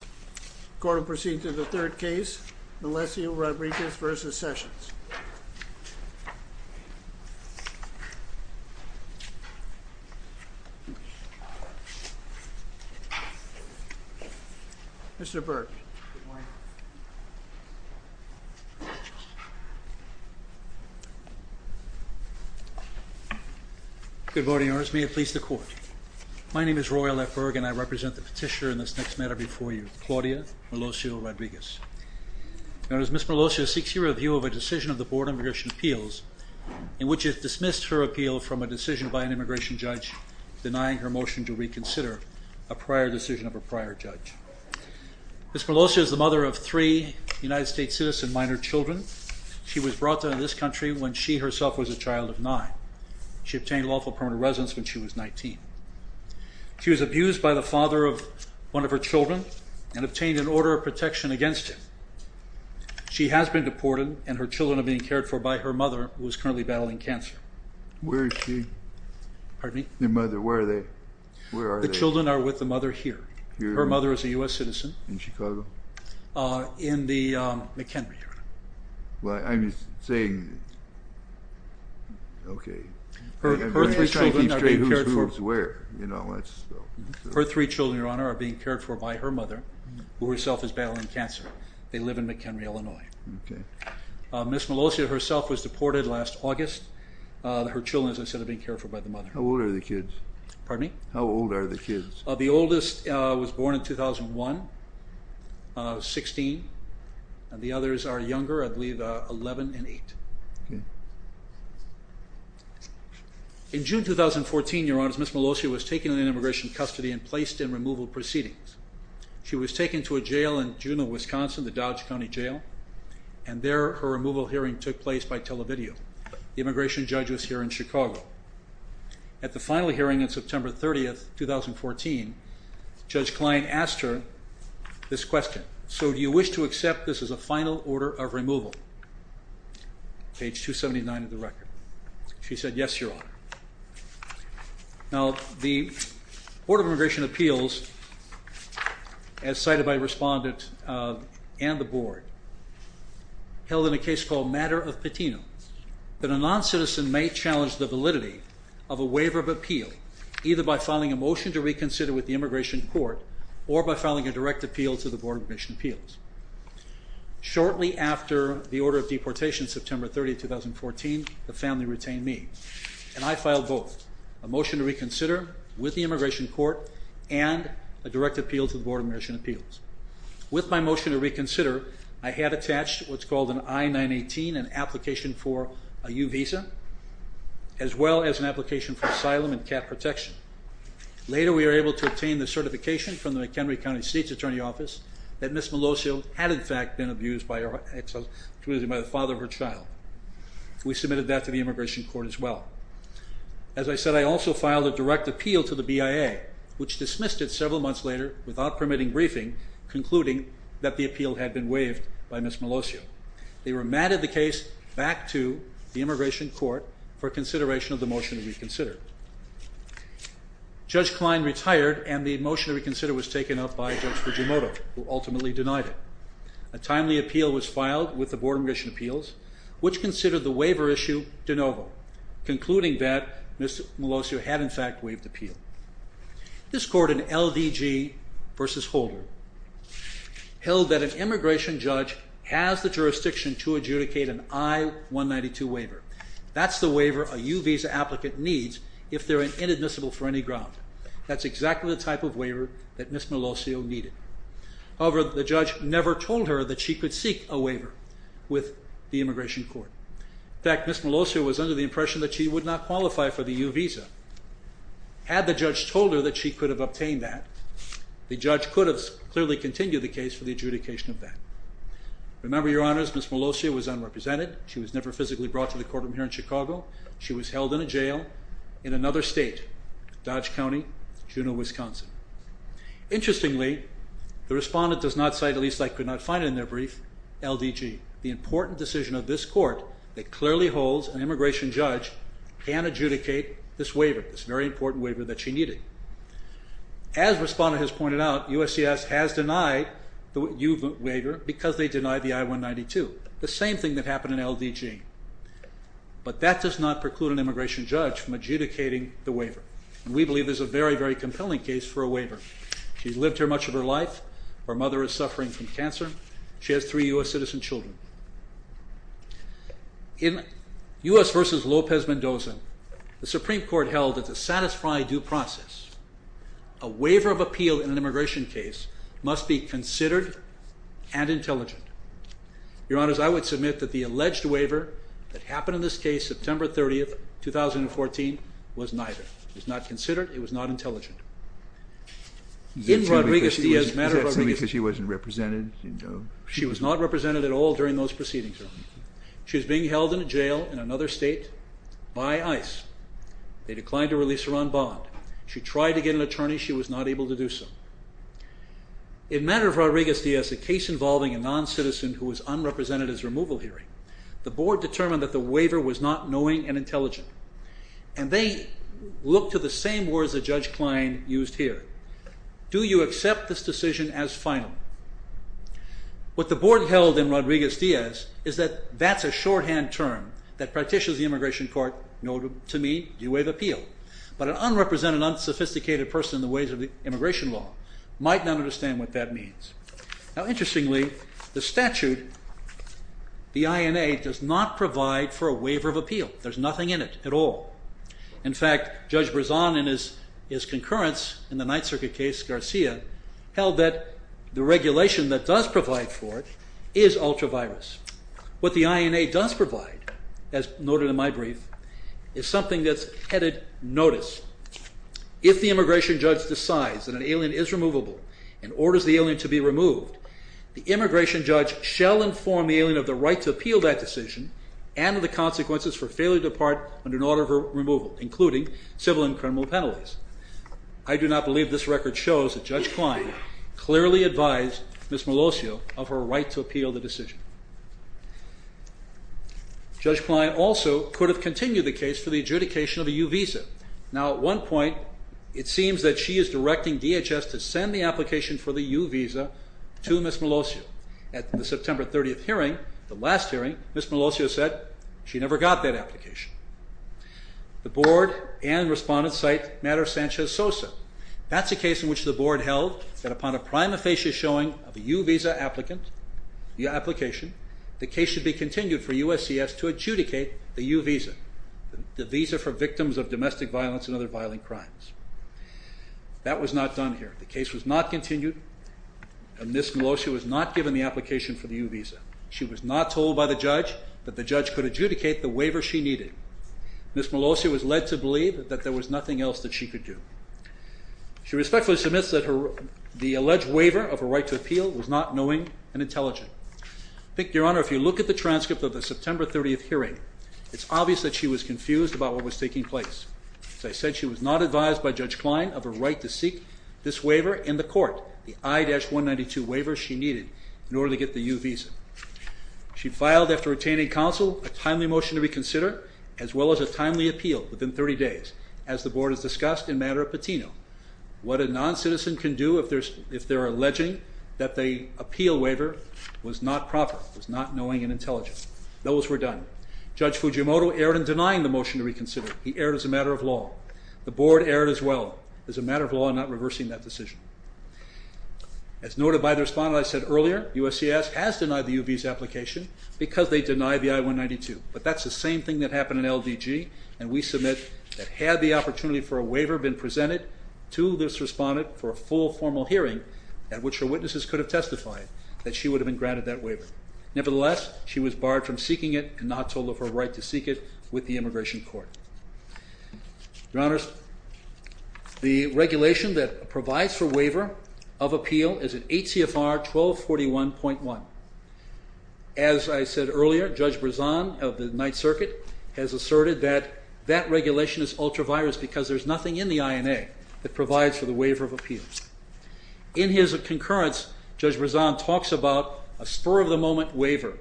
The Court will proceed to the third case, Melesio-Rodriguez v. Sessions. Mr. Berg. Good morning. Good morning, Your Honor. May it please the Court. My name is Roy L. Berg and I represent the petitioner in this next matter before you, Claudia Melesio-Rodriguez. Your Honor, Ms. Melesio seeks your review of a decision of the Board of Immigration Appeals in which it dismissed her appeal from a decision by an immigration judge denying her motion to reconsider a prior decision of a prior judge. Ms. Melesio is the mother of three United States citizen minor children. She was brought to this country when she herself was a child of nine. She obtained lawful permanent residence when she was 19. She was abused by the father of one of her children and obtained an order of protection against him. She has been deported and her children are being cared for by her mother who is currently battling cancer. Where is she? Pardon me? Where are they? The children are with the mother here. Her mother is a U.S. citizen. In Chicago? In the McHenry, Your Honor. I'm just saying, okay. Her three children are being cared for. Whose, where? Her three children, Your Honor, are being cared for by her mother who herself is battling cancer. They live in McHenry, Illinois. Okay. Ms. Melesio herself was deported last August. Her children, as I said, are being cared for by the mother. How old are the kids? Pardon me? How old are the kids? The oldest was born in 2001, 16, and the others are younger, I believe, 11 and 8. Okay. In June 2014, Your Honors, Ms. Melesio was taken into immigration custody and placed in removal proceedings. She was taken to a jail in Juneau, Wisconsin, the Dodge County Jail, and there her removal hearing took place by televideo. The immigration judge was here in Chicago. At the final hearing on September 30, 2014, Judge Klein asked her this question, so do you wish to accept this as a final order of removal? Page 279 of the record. She said, yes, Your Honor. Now, the Board of Immigration Appeals, as cited by respondents and the Board, held in a case called Matter of Patino, that a noncitizen may challenge the validity of a waiver of appeal, either by filing a motion to reconsider with the immigration court or by filing a direct appeal to the Board of Immigration Appeals. Shortly after the order of deportation, September 30, 2014, the family retained me, and I filed both, a motion to reconsider with the immigration court and a direct appeal to the Board of Immigration Appeals. With my motion to reconsider, I had attached what's called an I-918, an application for a U visa, as well as an application for asylum and cat protection. Later, we were able to obtain the certification from the McHenry County State's Attorney Office that Ms. Melosio had, in fact, been abused by the father of her child. We submitted that to the immigration court as well. As I said, I also filed a direct appeal to the BIA, which dismissed it several months later without permitting briefing, concluding that the appeal had been waived by Ms. Melosio. They remanded the case back to the immigration court for consideration of the motion to reconsider. Judge Klein retired, and the motion to reconsider was taken up by Judge Fujimoto, who ultimately denied it. A timely appeal was filed with the Board of Immigration Appeals, which considered the waiver issue de novo, concluding that Ms. Melosio had, in fact, waived the appeal. This court in LDG v. Holder held that an immigration judge has the jurisdiction to adjudicate an I-192 waiver. That's the waiver a U visa applicant needs if they're inadmissible for any ground. That's exactly the type of waiver that Ms. Melosio needed. However, the judge never told her that she could seek a waiver with the immigration court. In fact, Ms. Melosio was under the impression that she would not qualify for the U visa. Had the judge told her that she could have obtained that, the judge could have clearly continued the case for the adjudication of that. Remember, Your Honors, Ms. Melosio was unrepresented. She was never physically brought to the courtroom here in Chicago. She was held in a jail in another state, Dodge County, Juneau, Wisconsin. Interestingly, the respondent does not cite, at least I could not find it in their brief, LDG, the important decision of this court that clearly holds an immigration judge can adjudicate this waiver, this very important waiver that she needed. As the respondent has pointed out, USCIS has denied the U waiver because they denied the I-192, the same thing that happened in LDG. But that does not preclude an immigration judge from adjudicating the waiver. We believe this is a very, very compelling case for a waiver. She's lived here much of her life. Her mother is suffering from cancer. She has three U.S. citizen children. In U.S. v. Lopez-Mendoza, the Supreme Court held that to satisfy due process, a waiver of appeal in an immigration case must be considered and intelligent. Your Honors, I would submit that the alleged waiver that happened in this case, September 30, 2014, was neither. It was not considered. It was not intelligent. Is that because she wasn't represented? She was not represented at all during those proceedings. She was being held in a jail in another state by ICE. They declined to release her on bond. She tried to get an attorney. She was not able to do so. In matter of Rodriguez-Diaz, a case involving a noncitizen who was unrepresented at his removal hearing, the board determined that the waiver was not knowing and intelligent. They looked to the same words that Judge Klein used here. Do you accept this decision as final? What the board held in Rodriguez-Diaz is that that's a shorthand term that practitioners of the immigration court know to mean, do you waive appeal? But an unrepresented, unsophisticated person in the ways of immigration law might not understand what that means. Interestingly, the statute, the INA, does not provide for a waiver of appeal. There's nothing in it at all. In fact, Judge Brezon in his concurrence in the Ninth Circuit case, Garcia, held that the regulation that does provide for it is ultra-virus. What the INA does provide, as noted in my brief, is something that's headed notice. If the immigration judge decides that an alien is removable and orders the alien to be removed, the immigration judge shall inform the alien of the right to appeal that decision and of the consequences for failure to depart under an order of removal, including civil and criminal penalties. I do not believe this record shows that Judge Klein clearly advised Ms. Melosio of her right to appeal the decision. Judge Klein also could have continued the case for the adjudication of a U visa. Now, at one point, it seems that she is directing DHS to send the application for the U visa to Ms. Melosio. At the September 30th hearing, the last hearing, Ms. Melosio said she never got that application. The Board and Respondents cite Matters Sanchez-Sosa. That's a case in which the Board held that upon a prima facie showing of a U visa application, the case should be continued for USCS to adjudicate the U visa, the visa for victims of domestic violence and other violent crimes. That was not done here. The case was not continued, and Ms. Melosio was not given the application for the U visa. She was not told by the judge that the judge could adjudicate the waiver she needed. Ms. Melosio was led to believe that there was nothing else that she could do. She respectfully submits that the alleged waiver of her right to appeal was not knowing and intelligent. I think, Your Honor, if you look at the transcript of the September 30th hearing, it's obvious that she was confused about what was taking place. As I said, she was not advised by Judge Klein of her right to seek this waiver in the court, the I-192 waiver she needed in order to get the U visa. She filed, after attaining counsel, a timely motion to reconsider as well as a timely appeal within 30 days, as the Board has discussed in Matter of Patino. What a noncitizen can do if they're alleging that the appeal waiver was not proper, was not knowing and intelligent. Those were done. Judge Fujimoto erred in denying the motion to reconsider. He erred as a matter of law. The Board erred as well as a matter of law in not reversing that decision. As noted by the respondent I said earlier, USCIS has denied the U visa application because they denied the I-192. But that's the same thing that happened in LDG, and we submit that had the opportunity for a waiver been presented to this respondent for a full formal hearing, at which her witnesses could have testified, that she would have been granted that waiver. Nevertheless, she was barred from seeking it and not told of her right to seek it with the Immigration Court. Your Honors, the regulation that provides for waiver of appeal is in H.C.F.R. 1241.1. As I said earlier, Judge Brezan of the Ninth Circuit has asserted that that regulation is ultra-virus because there's nothing in the INA that provides for the waiver of appeals. In his concurrence, Judge Brezan talks about a spur-of-the-moment waiver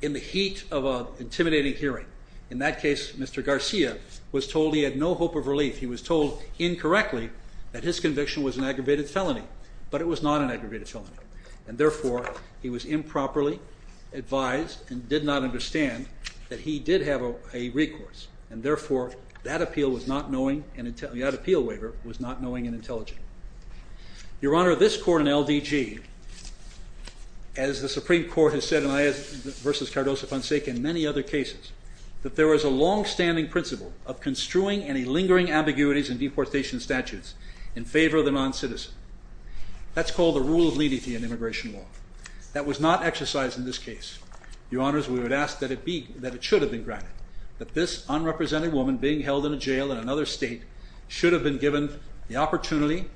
in the heat of an intimidating hearing. In that case, Mr. Garcia was told he had no hope of relief. He was told incorrectly that his conviction was an aggravated felony, but it was not an aggravated felony. And therefore, he was improperly advised and did not understand that he did have a recourse. And therefore, that appeal waiver was not knowing and intelligent. Your Honor, this Court in LDG, as the Supreme Court has said, and I, versus Cardoso, Ponsec, and many other cases, that there is a long-standing principle of construing any lingering ambiguities in deportation statutes in favor of the non-citizen. That's called the rule of leniency in immigration law. That was not exercised in this case. Your Honors, we would ask that it should have been granted, that this unrepresented woman being held in a jail in another state should have been given the opportunity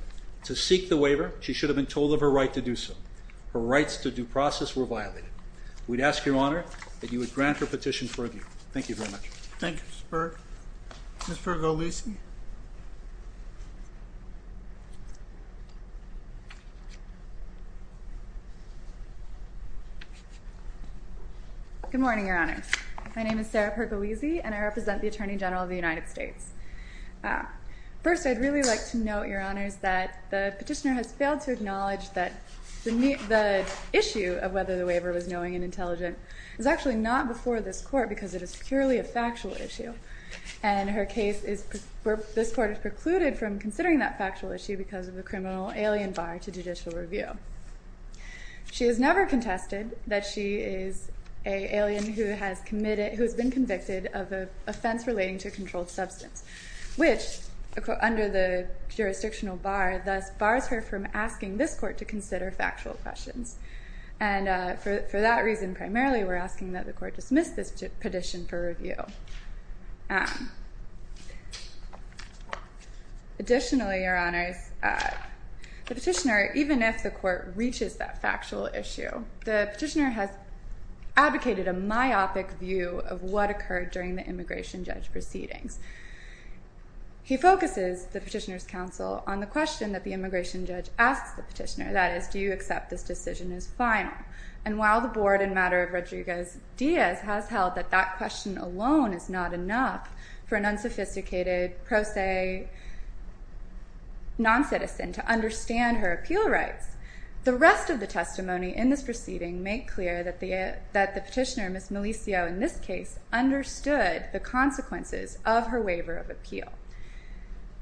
to seek the waiver. She should have been told of her right to do so. Her rights to due process were violated. We'd ask, Your Honor, that you would grant her petition for review. Thank you very much. Thank you, Mr. Berg. Ms. Pergo-Lisi. Good morning, Your Honors. My name is Sarah Pergo-Lisi, and I represent the Attorney General of the United States. First, I'd really like to note, Your Honors, that the petitioner has failed to acknowledge that the issue of whether the waiver was knowing and intelligent is actually not before this Court because it is purely a factual issue, and this Court has precluded from considering that factual issue because of the criminal alien bar to judicial review. She has never contested that she is an alien who has been convicted of an offense relating to a controlled substance, which, under the jurisdictional bar, thus bars her from asking this Court to consider factual questions. And for that reason, primarily, we're asking that the Court dismiss this petition for review. Additionally, Your Honors, the petitioner, even if the Court reaches that factual issue, the petitioner has advocated a myopic view of what occurred during the immigration judge proceedings. He focuses, the petitioner's counsel, on the question that the immigration judge asks the petitioner, and the answer to that is, do you accept this decision as final? And while the Board, in matter of Rodriguez-Diaz, has held that that question alone is not enough for an unsophisticated pro se non-citizen to understand her appeal rights, the rest of the testimony in this proceeding make clear that the petitioner, Ms. Malicio, in this case, understood the consequences of her waiver of appeal.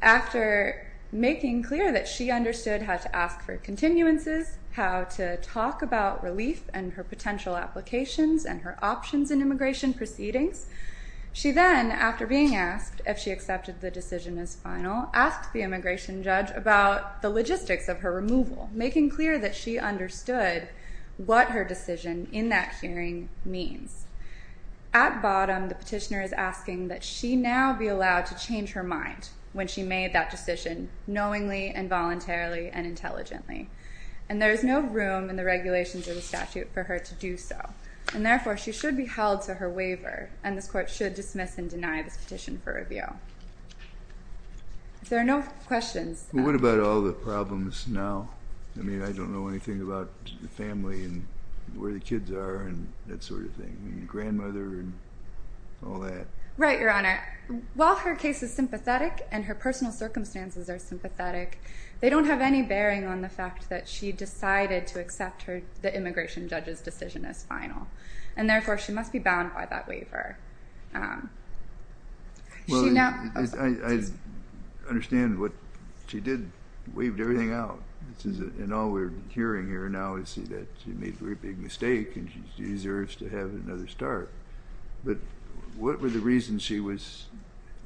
After making clear that she understood how to ask for continuances, how to talk about relief and her potential applications and her options in immigration proceedings, she then, after being asked if she accepted the decision as final, asked the immigration judge about the logistics of her removal, making clear that she understood what her decision in that hearing means. At bottom, the petitioner is asking that she now be allowed to change her mind when she made that decision knowingly and voluntarily and intelligently, and there is no room in the regulations of the statute for her to do so, and therefore she should be held to her waiver, and this Court should dismiss and deny this petition for review. If there are no questions... Well, what about all the problems now? I mean, I don't know anything about the family and where the kids are and that sort of thing, and grandmother and all that. Right, Your Honor. While her case is sympathetic and her personal circumstances are sympathetic, they don't have any bearing on the fact that she decided to accept the immigration judge's decision as final, and therefore she must be bound by that waiver. Well, I understand what she did, waived everything out, and all we're hearing here now is that she made a very big mistake and she deserves to have another start, but what were the reasons she was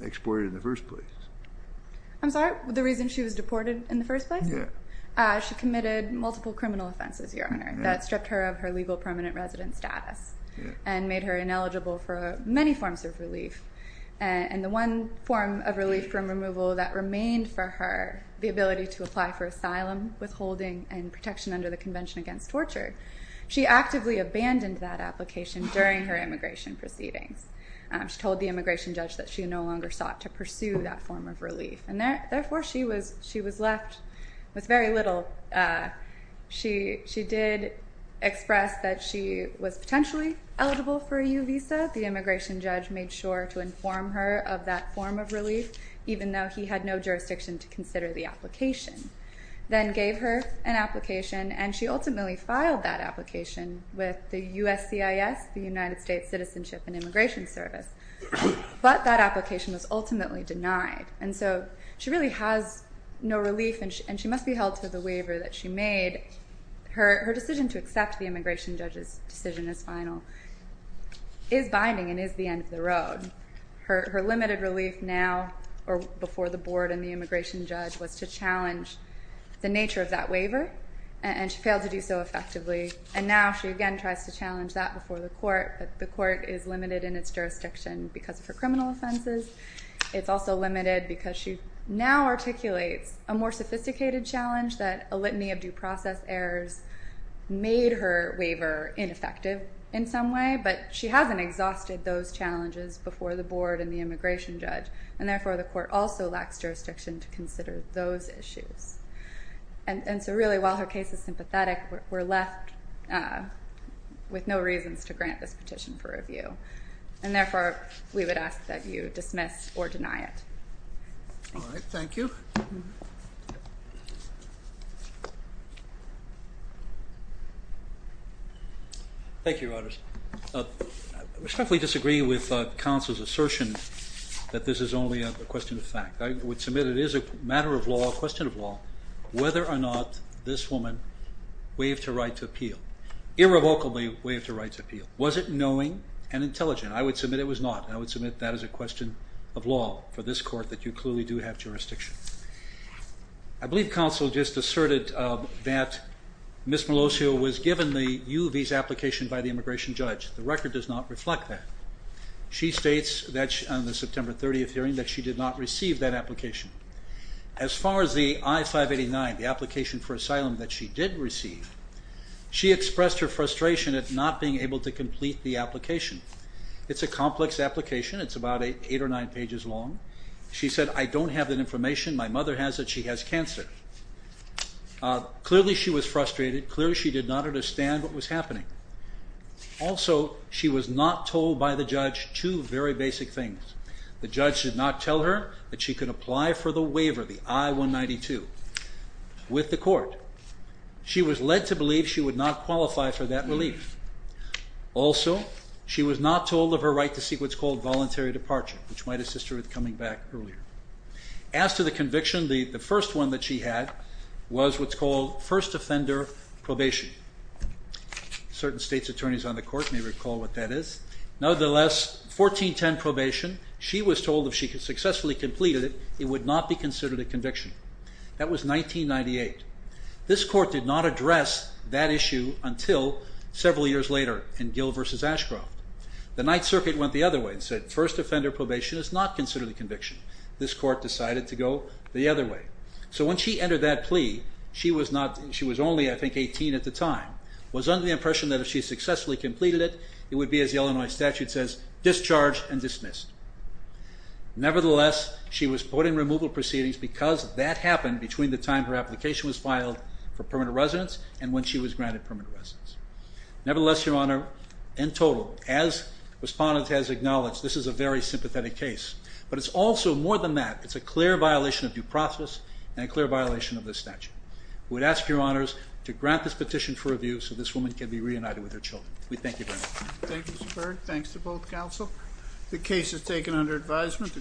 exported in the first place? I'm sorry? The reason she was deported in the first place? Yeah. She committed multiple criminal offenses, Your Honor, that stripped her of her legal permanent resident status and made her ineligible for many forms of relief, and the one form of relief from removal that remained for her, the ability to apply for asylum, withholding, and protection under the Convention Against Torture, she actively abandoned that application during her immigration proceedings. She told the immigration judge that she no longer sought to pursue that form of relief, and therefore she was left with very little. She did express that she was potentially eligible for a U visa. The immigration judge made sure to inform her of that form of relief, even though he had no jurisdiction to consider the application, then gave her an application, and she ultimately filed that application with the USCIS, the United States Citizenship and Immigration Service, but that application was ultimately denied, and so she really has no relief, and she must be held to the waiver that she made. Her decision to accept the immigration judge's decision as final is binding and is the end of the road. Her limited relief now, or before the board and the immigration judge, was to challenge the nature of that waiver, and she failed to do so effectively, and now she again tries to challenge that before the court, but the court is limited in its jurisdiction because of her criminal offenses. It's also limited because she now articulates a more sophisticated challenge that a litany of due process errors made her waiver ineffective in some way, but she hasn't exhausted those challenges before the board and the immigration judge, and therefore the court also lacks jurisdiction to consider those issues. And so really, while her case is sympathetic, we're left with no reasons to grant this petition for review, and therefore we would ask that you dismiss or deny it. All right. Thank you. Thank you, Your Honors. I respectfully disagree with counsel's assertion that this is only a question of fact. I would submit it is a matter of law, a question of law, whether or not this woman waived her right to appeal, irrevocably waived her right to appeal. Was it knowing and intelligent? I would submit it was not, and I would submit that is a question of law for this court, that you clearly do have jurisdiction. I believe counsel just asserted that Ms. Melosio was given the U visa application by the immigration judge. The record does not reflect that. She states on the September 30th hearing that she did not receive that application. As far as the I-589, the application for asylum that she did receive, she expressed her frustration at not being able to complete the application. It's a complex application. It's about eight or nine pages long. She said, I don't have that information. My mother has it. She has cancer. Clearly, she was frustrated. Clearly, she did not understand what was happening. Also, she was not told by the judge two very basic things. The judge did not tell her that she could apply for the waiver, the I-192, with the court. She was led to believe she would not qualify for that relief. Also, she was not told of her right to seek what's called voluntary departure, which might assist her with coming back earlier. As to the conviction, the first one that she had was what's called first offender probation. Certain states' attorneys on the court may recall what that is. Nevertheless, 1410 probation, she was told if she successfully completed it, it would not be considered a conviction. That was 1998. This court did not address that issue until several years later in Gill v. Ashcroft. The Ninth Circuit went the other way and said first offender probation is not considered a conviction. This court decided to go the other way. So when she entered that plea, she was only, I think, 18 at the time, was under the impression that if she successfully completed it, Nevertheless, she was put in removal proceedings because that happened between the time her application was filed for permanent residence and when she was granted permanent residence. Nevertheless, Your Honor, in total, as respondents have acknowledged, this is a very sympathetic case. But it's also, more than that, it's a clear violation of due process and a clear violation of the statute. We'd ask Your Honors to grant this petition for review so this woman can be reunited with her children. We thank you very much. Thank you, Mr. Berg. Thanks to both counsel. The case is taken under advisement.